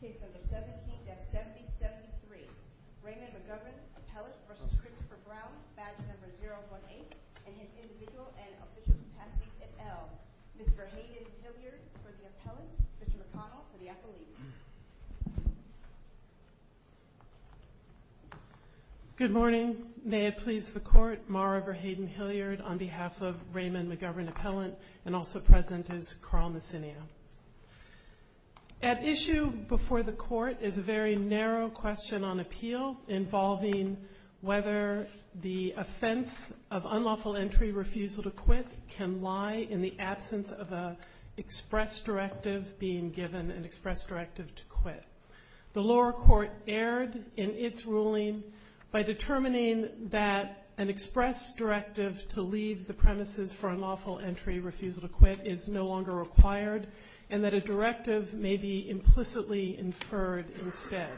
Page number 17-7073 Raymond McGovern Appellant v. Christopher Brown Badge number 018 and his individual and official capacities at L. Mr. Hayden Hilliard for the appellant, Mr. McConnell for the appellee. Good morning. May it please the court, Mara Verhaden Hilliard on behalf of Raymond McGovern Appellant and also present is Carl Messinia. At issue before the court is a very narrow question on appeal involving whether the offense of unlawful entry refusal to quit can lie in the absence of an express directive being given, an express directive to quit. The lower court erred in its ruling by determining that an express directive to leave the premises for unlawful entry refusal to quit is no longer required, and that a directive may be implicitly inferred instead.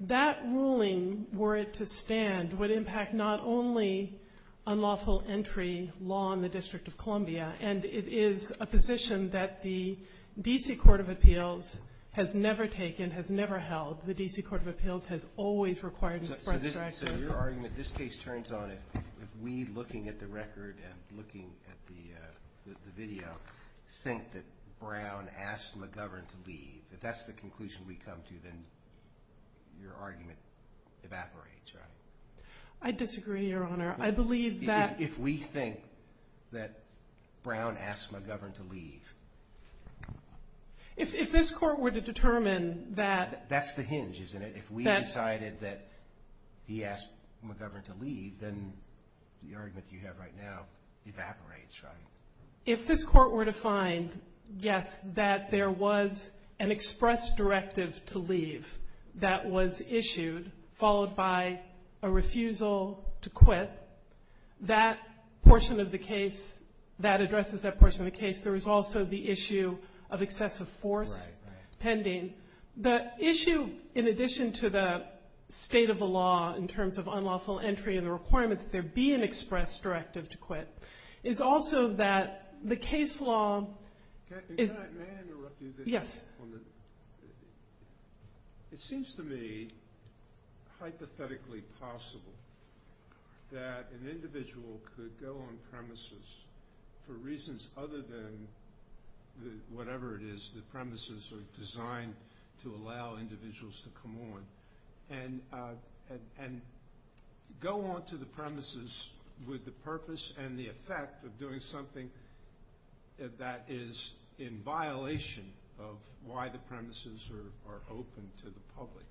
That ruling, were it to stand, would impact not only unlawful entry law in the District of Columbia, and it is a position that the D.C. Court of Appeals has never taken, has never held. The D.C. Court of Appeals has always required an express directive. So your argument, this case turns on, if we, looking at the record and looking at the video, think that Brown asked McGovern to leave, if that's the conclusion we come to, then your argument evaporates, right? I disagree, Your Honor. I believe that If we think that Brown asked McGovern to leave If this court were to determine that That's the hinge, isn't it? If we decided that he asked McGovern to leave, then the argument you have right now evaporates, right? If this court were to find, yes, that there was an express directive to leave that was issued, followed by a refusal to quit, that portion of the case, that addresses that portion of the case. There was also the issue of excessive force pending. The issue, in addition to the state of the law in terms of unlawful entry and the requirement that there be an express directive to quit, is also that the case law May I interrupt you? Yes. It seems to me, hypothetically possible, that an individual could go on premises for reasons other than whatever it is the premises are designed to allow individuals to come on, and go on to the premises with the purpose and the effect of doing something that is in violation of why the premises are open to the public.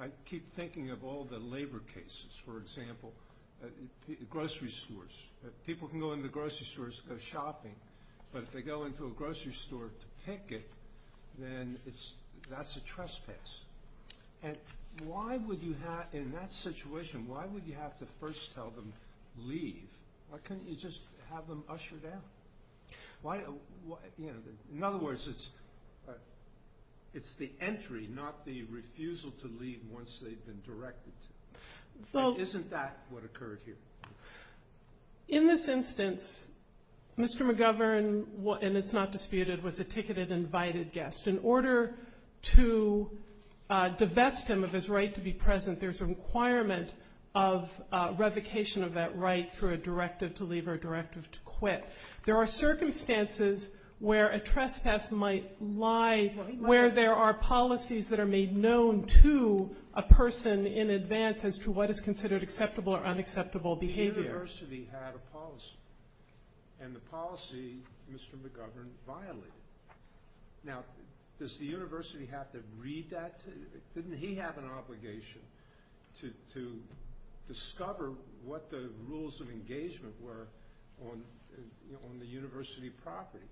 I keep thinking of all the labor cases, for example, grocery stores. People can go into the grocery stores to go shopping, but if they go into a grocery store to pick it, then that's a trespass. Why would you have, in that situation, why would you have to first tell them leave? Why couldn't you just have them usher down? In other words, it's the entry, not the refusal to leave once they've been directed to. Isn't that what occurred here? In this instance, Mr. McGovern, and it's not disputed, was a ticketed invited guest. In order to divest him of his right to be present, there's a requirement of revocation of that right through a directive to leave or a directive to quit. There are circumstances where a trespass might lie, where there are policies that are made known to a person in advance as to what is considered acceptable or unacceptable behavior. The university had a policy, and the policy, Mr. McGovern violated. Now, does the university have to read that? Didn't he have an obligation to discover what the rules of engagement were on the university property?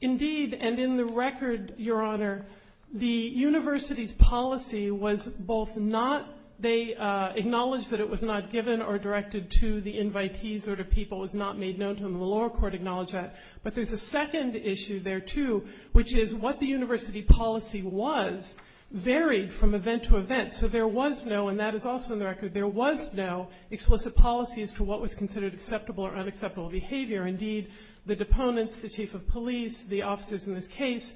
Indeed, and in the record, Your Honor, the university's policy was both not, they acknowledged that it was not given or directed to the invitees or to people, it was not made known to them. The lower court acknowledged that. But there's a second issue there, too, which is what the university policy was varied from event to event. So there was no, and that is also in the record, there was no explicit policy as to what was considered acceptable or unacceptable behavior. Indeed, the deponents, the chief of police, the officers in this case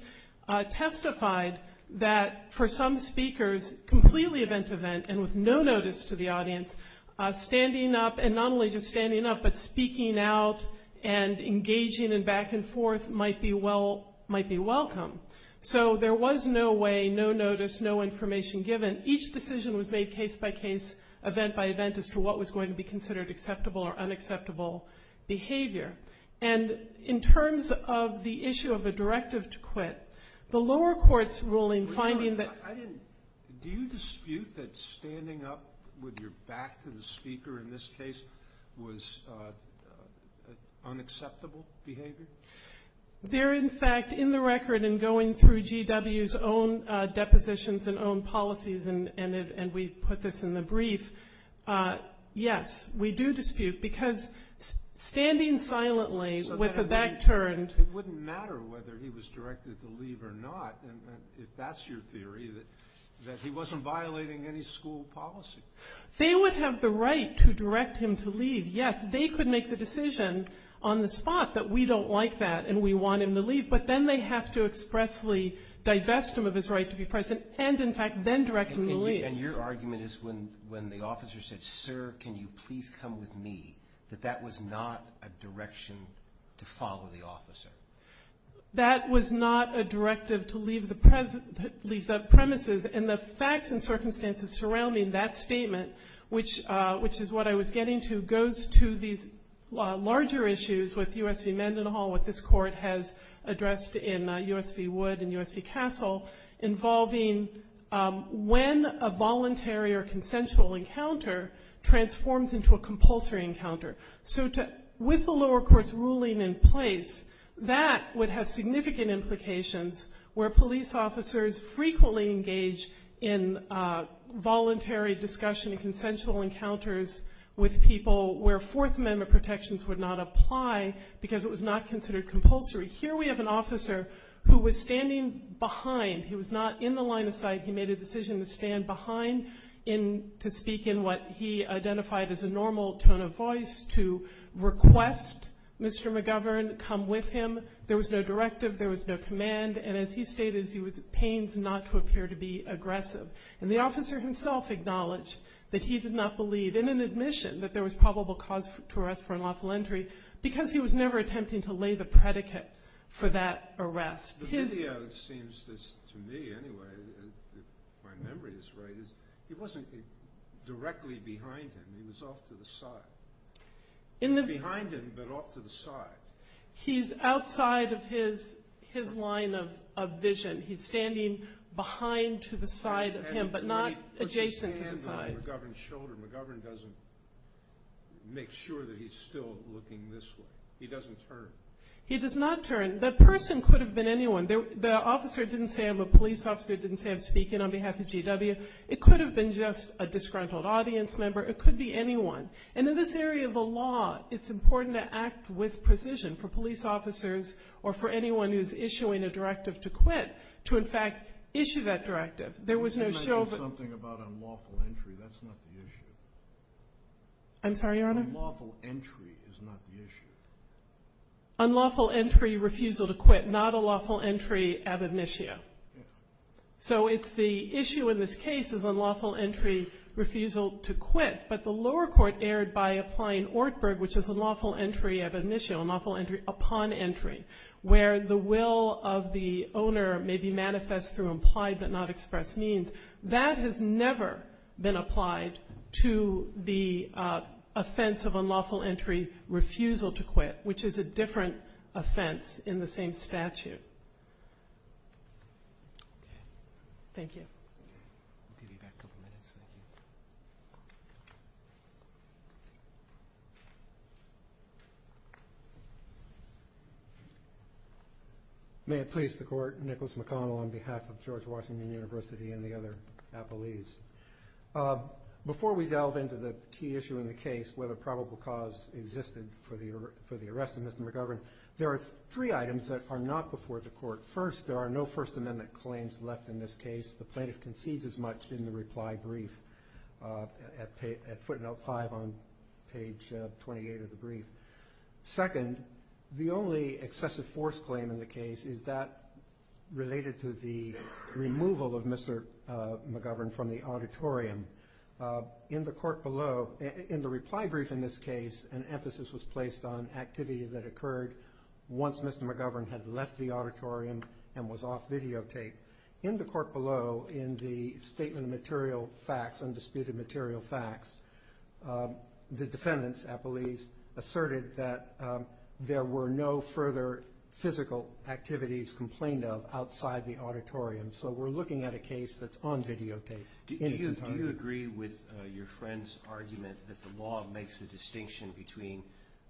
testified that for some speakers, completely event to event and with no notice to the audience, standing up, and not only just standing up, but speaking out and engaging in back and forth might be welcome. So there was no way, no notice, no information given. Each decision was made case by case, event by event, as to what was going to be considered acceptable or unacceptable behavior. And in terms of the issue of a directive to quit, the lower court's ruling finding that I didn't, do you dispute that standing up with your back to the speaker in this case was unacceptable behavior? There, in fact, in the record and going through GW's own depositions and own policies, and we put this in the brief, yes, we do dispute. Because standing silently with a back turned. It wouldn't matter whether he was directed to leave or not. If that's your theory, that he wasn't violating any school policy. They would have the right to direct him to leave. Yes, they could make the decision on the spot that we don't like that and we want him to leave. But then they have to expressly divest him of his right to be present and, in fact, then direct him to leave. And your argument is when the officer said, sir, can you please come with me, that that was not a direction to follow the officer? That was not a directive to leave the premises. And the facts and circumstances surrounding that statement, which is what I was getting to, goes to these larger issues with U.S. v. Mendenhall, what this court has addressed in U.S. v. Wood and U.S. v. Castle, involving when a voluntary or consensual encounter transforms into a compulsory encounter. So with the lower court's ruling in place, that would have significant implications where police officers frequently engage in voluntary discussion and consensual encounters with people where Fourth Amendment protections would not apply because it was not considered compulsory. Here we have an officer who was standing behind. He was not in the line of sight. He made a decision to stand behind to speak in what he identified as a normal tone of voice to request Mr. McGovern come with him. There was no directive. There was no command. And as he stated, he was at pains not to appear to be aggressive. And the officer himself acknowledged that he did not believe in an admission that there was probable cause to arrest for unlawful entry because he was never attempting to lay the predicate for that arrest. The video seems to me anyway, if my memory is right, he wasn't directly behind him. He was off to the side. Behind him, but off to the side. He's outside of his line of vision. He's standing behind to the side of him, but not adjacent to the side. But she's standing on McGovern's shoulder. McGovern doesn't make sure that he's still looking this way. He doesn't turn. He does not turn. The person could have been anyone. The officer didn't say I'm a police officer, didn't say I'm speaking on behalf of GW. It could have been just a disgruntled audience member. It could be anyone. And in this area of the law, it's important to act with precision for police officers or for anyone who's issuing a directive to quit to, in fact, issue that directive. There was no show of it. Can I say something about unlawful entry? That's not the issue. I'm sorry, Your Honor? Unlawful entry is not the issue. Unlawful entry, refusal to quit, not a lawful entry ad initio. So it's the issue in this case is unlawful entry, refusal to quit, but the lower court erred by applying Ortberg, which is unlawful entry ad initio, unlawful entry upon entry, where the will of the owner may be manifest through implied but not expressed means. That has never been applied to the offense of unlawful entry refusal to quit, which is a different offense in the same statute. Thank you. May it please the Court, I'm Nicholas McConnell on behalf of George Washington University and the other appellees. Before we delve into the key issue in the case, whether probable cause existed for the arrest of Mr. McGovern, there are three items that are not before the Court. First, there are no First Amendment claims left in this case. The plaintiff concedes as much in the reply brief at footnote 5 on page 28 of the brief. Second, the only excessive force claim in the case is that related to the removal of Mr. McGovern from the auditorium. In the court below, in the reply brief in this case, an emphasis was placed on activity that occurred once Mr. McGovern had left the auditorium and was off videotape. In the court below, in the statement of material facts, undisputed material facts, the defendants, appellees, asserted that there were no further physical activities complained of outside the auditorium. So we're looking at a case that's on videotape. Do you agree with your friend's argument that the law makes a distinction between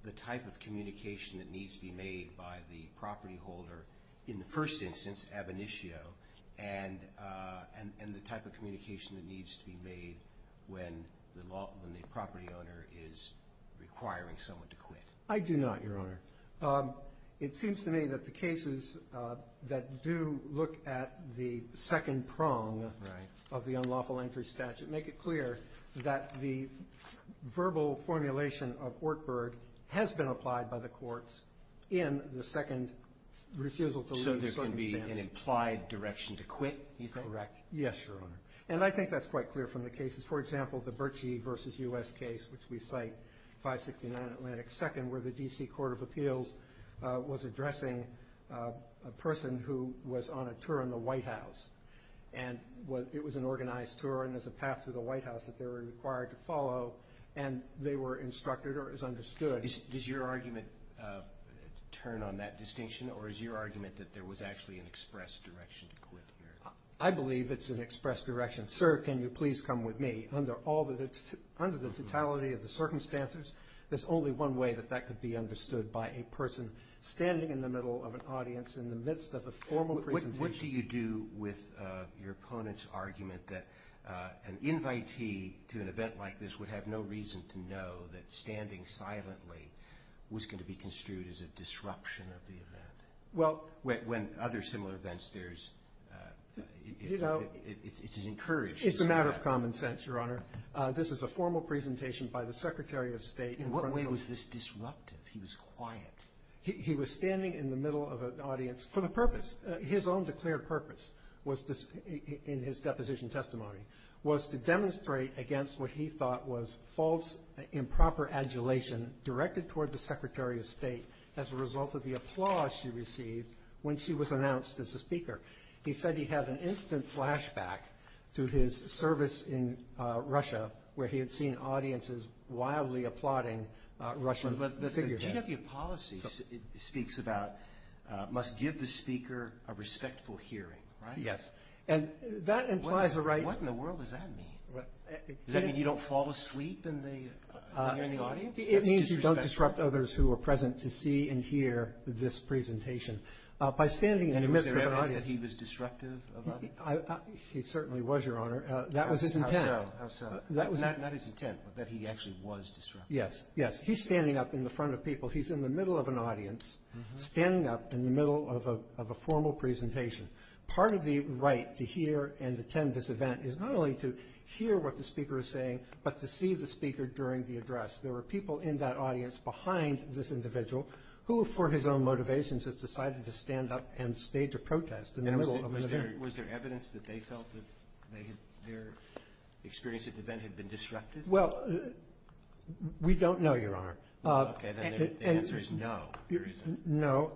the type of communication that needs to be made by the property holder, in the first instance, ab initio, and the type of communication that needs to be made when the property owner is requiring someone to quit? I do not, Your Honor. It seems to me that the cases that do look at the second prong of the unlawful entry statute make it clear that the verbal formulation of Ortberg has been applied by the courts in the second refusal to leave circumstance. So there can be an implied direction to quit, you think? Correct. Yes, Your Honor. And I think that's quite clear from the cases. For example, the Bertschi v. U.S. case, which we cite, 569 Atlantic 2nd, where the D.C. Court of Appeals was addressing a person who was on a tour in the White House. And it was an organized tour, and there's a path through the White House that they were required to follow, and they were instructed or it was understood. Does your argument turn on that distinction, or is your argument that there was actually an expressed direction to quit? I believe it's an expressed direction. Sir, can you please come with me? Under the totality of the circumstances, there's only one way that that could be understood, by a person standing in the middle of an audience in the midst of a formal presentation. What do you do with your opponent's argument that an invitee to an event like this would have no reason to know that standing silently was going to be construed as a disruption of the event? Well – When other similar events, there's – it's encouraged. It's a matter of common sense, Your Honor. This is a formal presentation by the Secretary of State in front of – In what way was this disruptive? He was quiet. He was standing in the middle of an audience for the purpose – his own declared purpose was – in his deposition testimony – was to demonstrate against what he thought was false, improper adulation directed toward the Secretary of State as a result of the applause she received when she was announced as a speaker. He said he had an instant flashback to his service in Russia, where he had seen audiences wildly applauding Russian figures. GW Policy speaks about – must give the speaker a respectful hearing, right? Yes. And that implies the right – What in the world does that mean? Does that mean you don't fall asleep in the audience? It means you don't disrupt others who are present to see and hear this presentation. By standing in the midst of an audience – And was there evidence that he was disruptive of others? He certainly was, Your Honor. That was his intent. How so? Not his intent, but that he actually was disruptive. Yes. Yes, he's standing up in the front of people. He's in the middle of an audience, standing up in the middle of a formal presentation. Part of the right to hear and attend this event is not only to hear what the speaker is saying, but to see the speaker during the address. There were people in that audience behind this individual who, for his own motivations, has decided to stand up and stage a protest in the middle of an event. And was there evidence that they felt that their experience at the event had been disruptive? Well, we don't know, Your Honor. Okay, then the answer is no. No,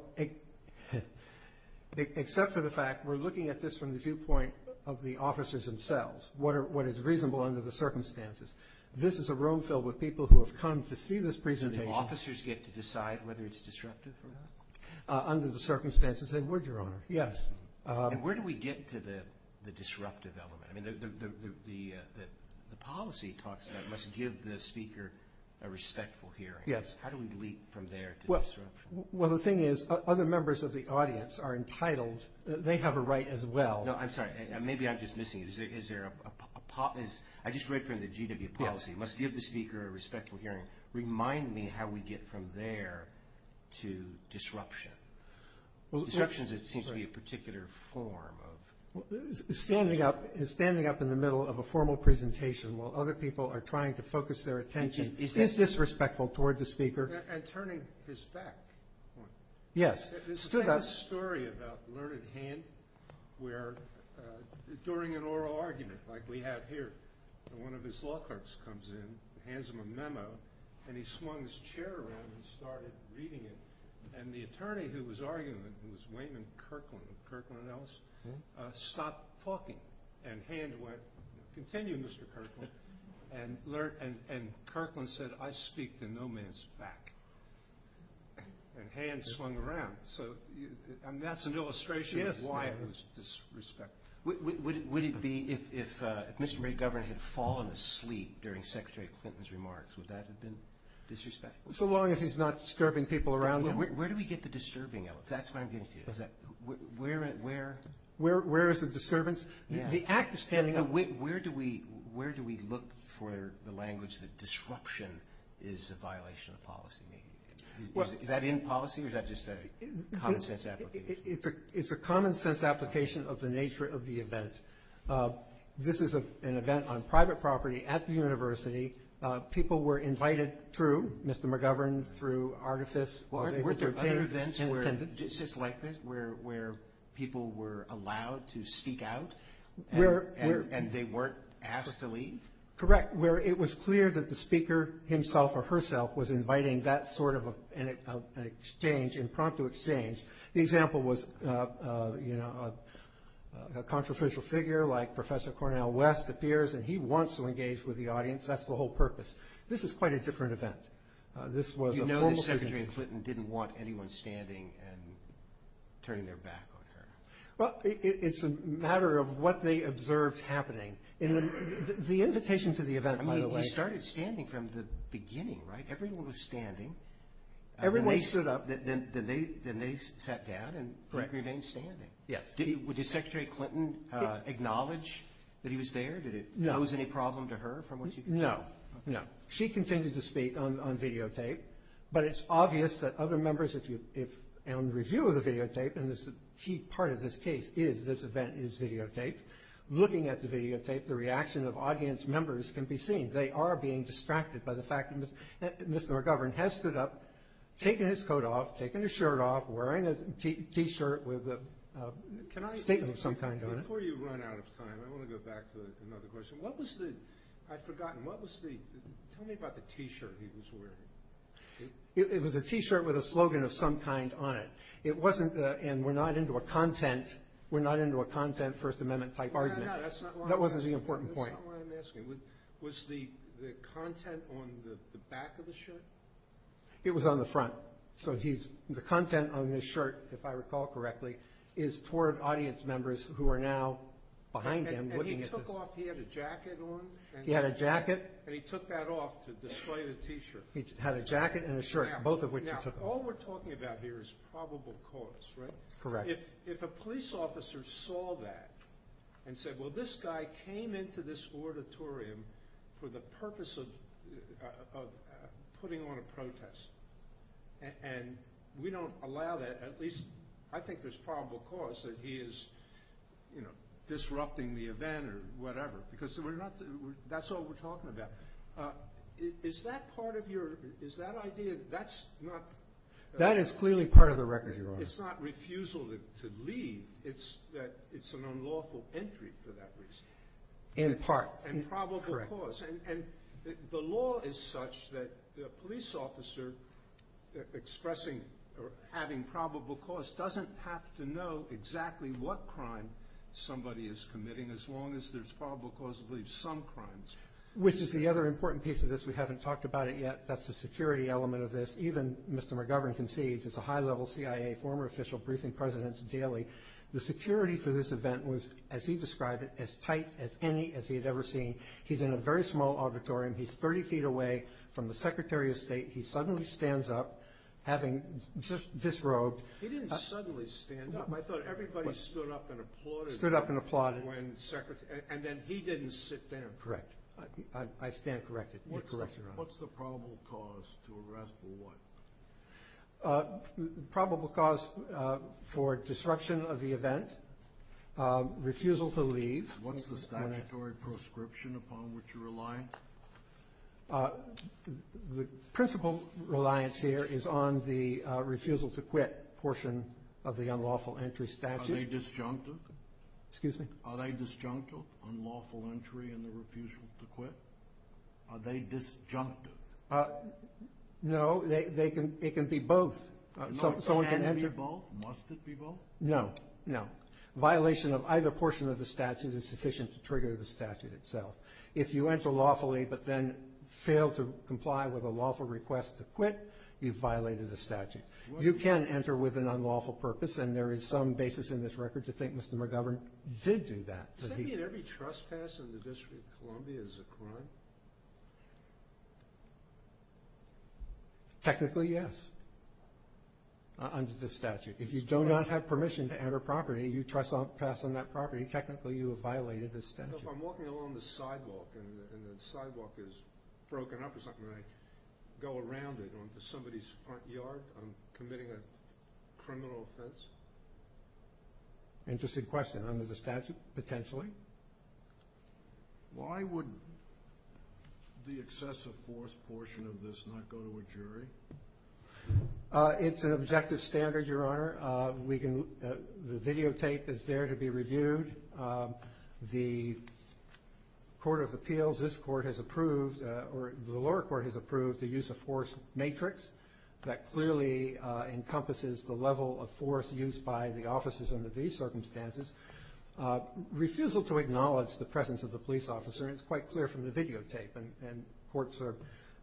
except for the fact we're looking at this from the viewpoint of the officers themselves, what is reasonable under the circumstances. This is a room filled with people who have come to see this presentation. So do officers get to decide whether it's disruptive or not? Under the circumstances, they would, Your Honor, yes. And where do we get to the disruptive element? I mean, the policy talks about must give the speaker a respectful hearing. Yes. How do we leap from there to disruption? Well, the thing is, other members of the audience are entitled. They have a right as well. No, I'm sorry. Maybe I'm just missing it. Is there a policy? I just read from the GW policy. Must give the speaker a respectful hearing. Remind me how we get from there to disruption. Disruption seems to be a particular form of... Standing up in the middle of a formal presentation while other people are trying to focus their attention. Is this disrespectful toward the speaker? And turning his back. Yes. There's a story about Learned Hand where during an oral argument, like we have here, one of his law clerks comes in, hands him a memo, and he swung his chair around and started reading it. And the attorney who was arguing it, who was Wayman Kirkland, Kirkland and Ellis, stopped talking. And Hand went, continue, Mr. Kirkland. And Kirkland said, I speak to no man's back. And Hand swung around. And that's an illustration of why it was disrespectful. Would it be if Mr. McGovern had fallen asleep during Secretary Clinton's remarks? Would that have been disrespectful? So long as he's not disturbing people around him. Where do we get the disturbing, Ellis? That's what I'm getting to. Where is the disturbance? The act is standing up. Where do we look for the language that disruption is a violation of policy? Is that in policy or is that just a common sense application? It's a common sense application of the nature of the event. This is an event on private property at the university. People were invited through Mr. McGovern, through Artifice. Were there other events where people were allowed to speak out and they weren't asked to leave? Correct. Where it was clear that the speaker himself or herself was inviting that sort of exchange, impromptu exchange. The example was a controversial figure like Professor Cornel West appears, and he wants to engage with the audience. That's the whole purpose. This is quite a different event. You know that Secretary Clinton didn't want anyone standing and turning their back on her. Well, it's a matter of what they observed happening. The invitation to the event, by the way. I mean, he started standing from the beginning, right? Everyone was standing. Everyone stood up. Then they sat down and remained standing. Did Secretary Clinton acknowledge that he was there? Did it pose any problem to her? No. She continued to speak on videotape. But it's obvious that other members, if you review the videotape, and a key part of this case is this event is videotaped, looking at the videotape, the reaction of audience members can be seen. They are being distracted by the fact that Mr. McGovern has stood up, taken his coat off, taken his shirt off, wearing a T-shirt with a statement of some kind on it. Before you run out of time, I want to go back to another question. What was the – I've forgotten. What was the – tell me about the T-shirt he was wearing. It was a T-shirt with a slogan of some kind on it. It wasn't – and we're not into a content – we're not into a content First Amendment-type argument. No, no, that's not why I'm asking. That wasn't the important point. That's not why I'm asking. Was the content on the back of the shirt? It was on the front. So he's – the content on his shirt, if I recall correctly, is toward audience members who are now behind him looking at this. And he took off – he had a jacket on? He had a jacket. And he took that off to display the T-shirt. He had a jacket and a shirt, both of which he took off. Now, all we're talking about here is probable cause, right? Correct. If a police officer saw that and said, well, this guy came into this auditorium for the purpose of putting on a protest, and we don't allow that – at least I think there's probable cause that he is, you know, disrupting the event or whatever because we're not – that's all we're talking about. Is that part of your – is that idea – that's not – That is clearly part of the record, Your Honor. It's not refusal to leave. It's that it's an unlawful entry for that reason. In part. And probable cause. Correct. And the law is such that the police officer expressing or having probable cause doesn't have to know exactly what crime somebody is committing as long as there's probable cause to believe some crimes. Which is the other important piece of this. We haven't talked about it yet. That's the security element of this. Even Mr. McGovern concedes, as a high-level CIA former official briefing presidents daily, the security for this event was, as he described it, as tight as any as he had ever seen. He's in a very small auditorium. He's 30 feet away from the Secretary of State. He suddenly stands up, having disrobed. He didn't suddenly stand up. I thought everybody stood up and applauded. Stood up and applauded. When Secretary – and then he didn't sit down. Correct. I stand corrected. You're correct, Your Honor. What's the probable cause to arrest for what? Probable cause for disruption of the event, refusal to leave. What's the statutory prescription upon which you're reliant? The principal reliance here is on the refusal to quit portion of the unlawful entry statute. Are they disjunctive? Excuse me? Are they disjunctive, unlawful entry and the refusal to quit? Are they disjunctive? No. It can be both. Can it be both? Must it be both? No. No. Violation of either portion of the statute is sufficient to trigger the statute itself. If you enter lawfully but then fail to comply with a lawful request to quit, you've violated the statute. You can enter with an unlawful purpose, and there is some basis in this record to think Mr. McGovern did do that. Does that mean every trespass in the District of Columbia is a crime? Technically, yes, under the statute. If you do not have permission to enter property and you trespass on that property, technically you have violated the statute. If I'm walking along the sidewalk and the sidewalk is broken up or something, and I go around it onto somebody's front yard, I'm committing a criminal offense? Interesting question. Under the statute, potentially. Why would the excessive force portion of this not go to a jury? It's an objective standard, Your Honor. The videotape is there to be reviewed. The Court of Appeals, this Court has approved, or the lower court has approved, the use of force matrix that clearly encompasses the level of force used by the officers under these circumstances. Refusal to acknowledge the presence of the police officer is quite clear from the videotape, and courts are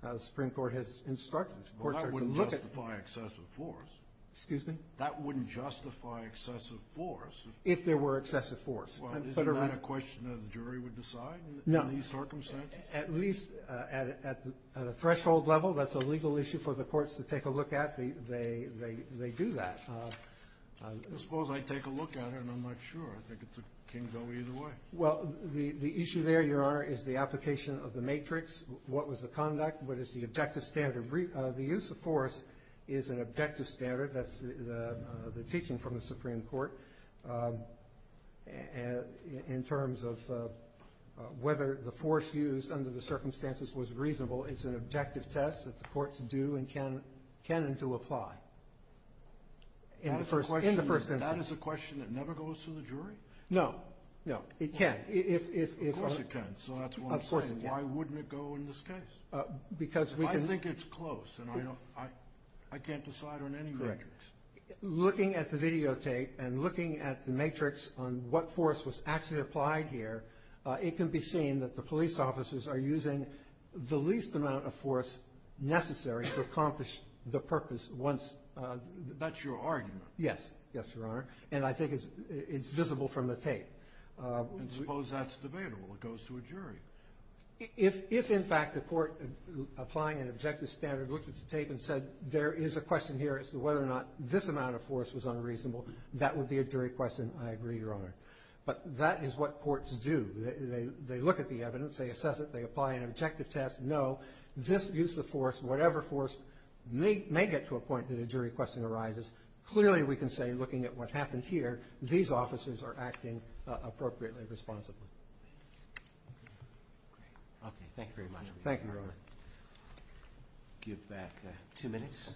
as the Supreme Court has instructed. Well, that wouldn't justify excessive force. Excuse me? That wouldn't justify excessive force. If there were excessive force. Well, isn't that a question that a jury would decide in these circumstances? At least at a threshold level, that's a legal issue for the courts to take a look at. They do that. I suppose I'd take a look at it, and I'm not sure. I think it can go either way. Well, the issue there, Your Honor, is the application of the matrix. What was the conduct? What is the objective standard? The use of force is an objective standard. That's the teaching from the Supreme Court in terms of whether the force used under the circumstances was reasonable. It's an objective test that the courts do and can and do apply in the first instance. That is a question that never goes to the jury? No. No, it can. Of course it can. Of course it can. So that's what I'm saying. Why wouldn't it go in this case? Because we can. I think it's close. I can't decide on any matrix. Looking at the videotape and looking at the matrix on what force was actually applied here, it can be seen that the police officers are using the least amount of force necessary to accomplish the purpose once. That's your argument? Yes. Yes, Your Honor. And I think it's visible from the tape. I suppose that's debatable. It goes to a jury. If, in fact, the court applying an objective standard looked at the tape and said, there is a question here as to whether or not this amount of force was unreasonable, that would be a jury question. I agree, Your Honor. But that is what courts do. They look at the evidence. They assess it. They apply an objective test. No, this use of force, whatever force, may get to a point that a jury question arises. Clearly, we can say, looking at what happened here, these officers are acting appropriately and responsibly. Okay. Thank you very much. Thank you, Your Honor. I'll give back two minutes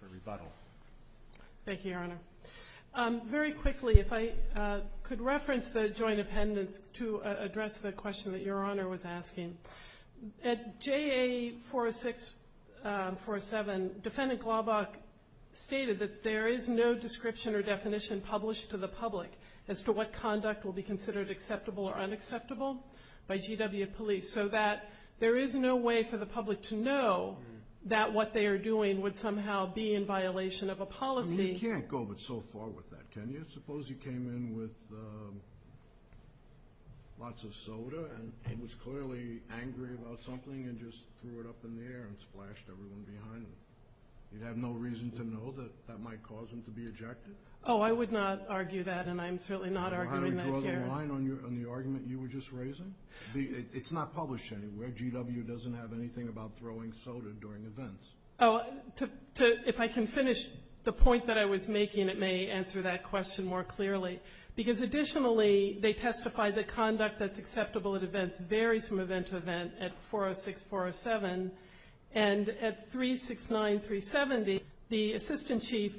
for rebuttal. Thank you, Your Honor. Very quickly, if I could reference the joint appendix to address the question that Your Honor was asking. At JA 406, 407, Defendant Glaubach stated that there is no description or definition published to the public as to what conduct will be considered acceptable or unacceptable by GW police, so that there is no way for the public to know that what they are doing would somehow be in violation of a policy. You can't go so far with that, can you? Suppose he came in with lots of soda, and he was clearly angry about something, and just threw it up in the air and splashed everyone behind him. You'd have no reason to know that that might cause him to be ejected? Oh, I would not argue that, and I'm certainly not arguing that here. Well, how do you draw the line on the argument you were just raising? It's not published anywhere. GW doesn't have anything about throwing soda during events. If I can finish the point that I was making, it may answer that question more clearly. Because additionally, they testify that conduct that's acceptable at events varies from event to event at 406, 407. And at 369, 370, the Assistant Chief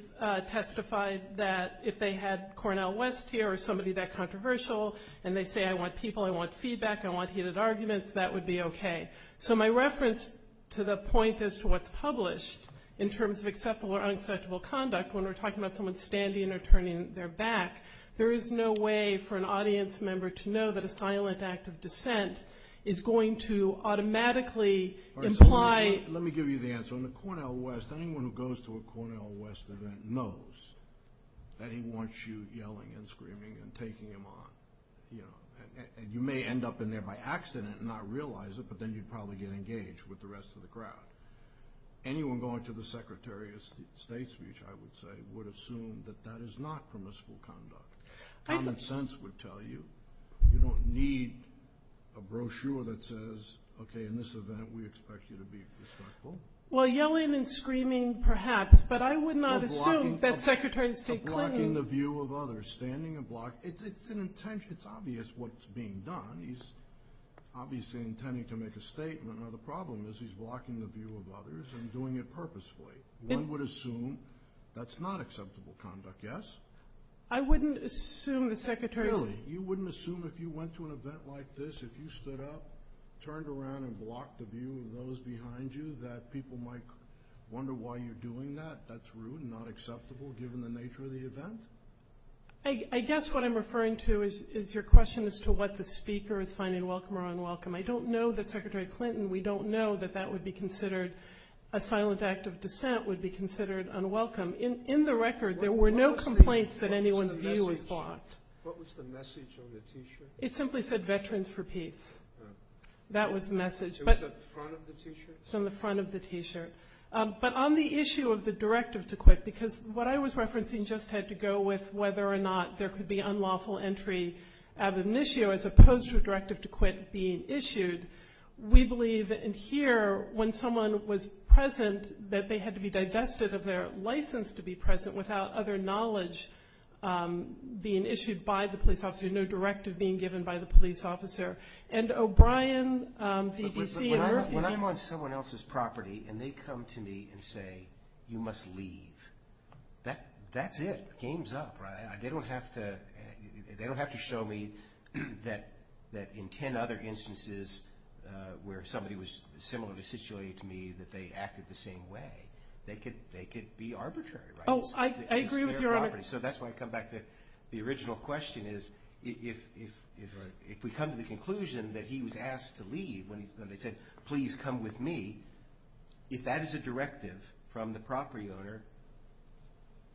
testified that if they had Cornel West here, or somebody that controversial, and they say, I want people, I want feedback, I want heated arguments, that would be okay. So my reference to the point as to what's published in terms of acceptable or unacceptable conduct, when we're talking about someone standing or turning their back, there is no way for an audience member to know that a silent act of dissent is going to automatically imply. Let me give you the answer. On the Cornel West, anyone who goes to a Cornel West event knows that he wants you yelling and screaming and taking him on. And you may end up in there by accident and not realize it, but then you'd probably get engaged with the rest of the crowd. Anyone going to the Secretary of State's speech, I would say, would assume that that is not permissible conduct. Common sense would tell you you don't need a brochure that says, okay, in this event we expect you to be respectful. Well, yelling and screaming perhaps, but I would not assume that Secretary of State Clinton is blocking the view of others, standing and blocking. It's an intention. It's obvious what's being done. He's obviously intending to make a statement. Now, the problem is he's blocking the view of others and doing it purposefully. One would assume that's not acceptable conduct, yes? I wouldn't assume the Secretary's Really? You wouldn't assume if you went to an event like this, if you stood up, turned around and blocked the view of those behind you, that people might wonder why you're doing that? That's rude and not acceptable given the nature of the event? I guess what I'm referring to is your question as to what the speaker is finding welcome or unwelcome. I don't know that Secretary Clinton, we don't know that that would be considered a silent act of dissent, would be considered unwelcome. In the record, there were no complaints that anyone's view was blocked. What was the message on the T-shirt? It simply said Veterans for Peace. That was the message. It was on the front of the T-shirt? It was on the front of the T-shirt. But on the issue of the directive to quit, because what I was referencing just had to go with whether or not there could be unlawful entry out of an issue as opposed to a directive to quit being issued, we believe in here when someone was present that they had to be divested of their license to be present without other knowledge being issued by the police officer, no directive being given by the police officer. And O'Brien, VDC, and Murphy- When I'm on someone else's property and they come to me and say, you must leave, that's it. Game's up, right? They don't have to show me that in 10 other instances where somebody was similarly situated to me that they acted the same way. They could be arbitrary, right? Oh, I agree with you, Your Honor. So that's why I come back to the original question is if we come to the conclusion that he was asked to leave when they said, please come with me, if that is a directive from the property owner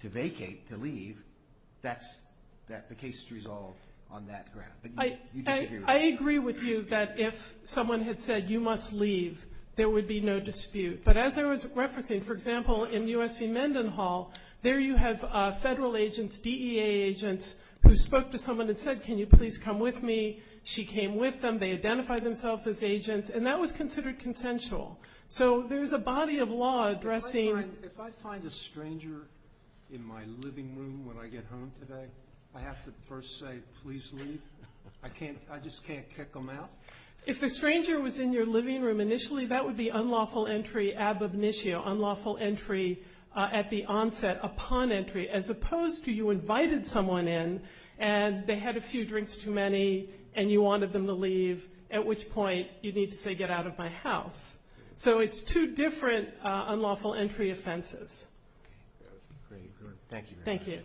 to vacate, to leave, the case is resolved on that ground. I agree with you that if someone had said, you must leave, there would be no dispute. But as I was referencing, for example, in U.S. v. Mendenhall, there you have federal agents, DEA agents who spoke to someone and said, can you please come with me? She came with them. They identified themselves as agents. And that was considered consensual. So there's a body of law addressing. If I find a stranger in my living room when I get home today, I have to first say, please leave? I just can't kick them out? If the stranger was in your living room initially, that would be unlawful entry ab initio, unlawful entry at the onset upon entry, as opposed to you invited someone in and they had a few drinks too many and you wanted them to leave, at which point you need to say, get out of my house. So it's two different unlawful entry offenses. Thank you very much. Thank you.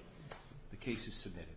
The case is submitted.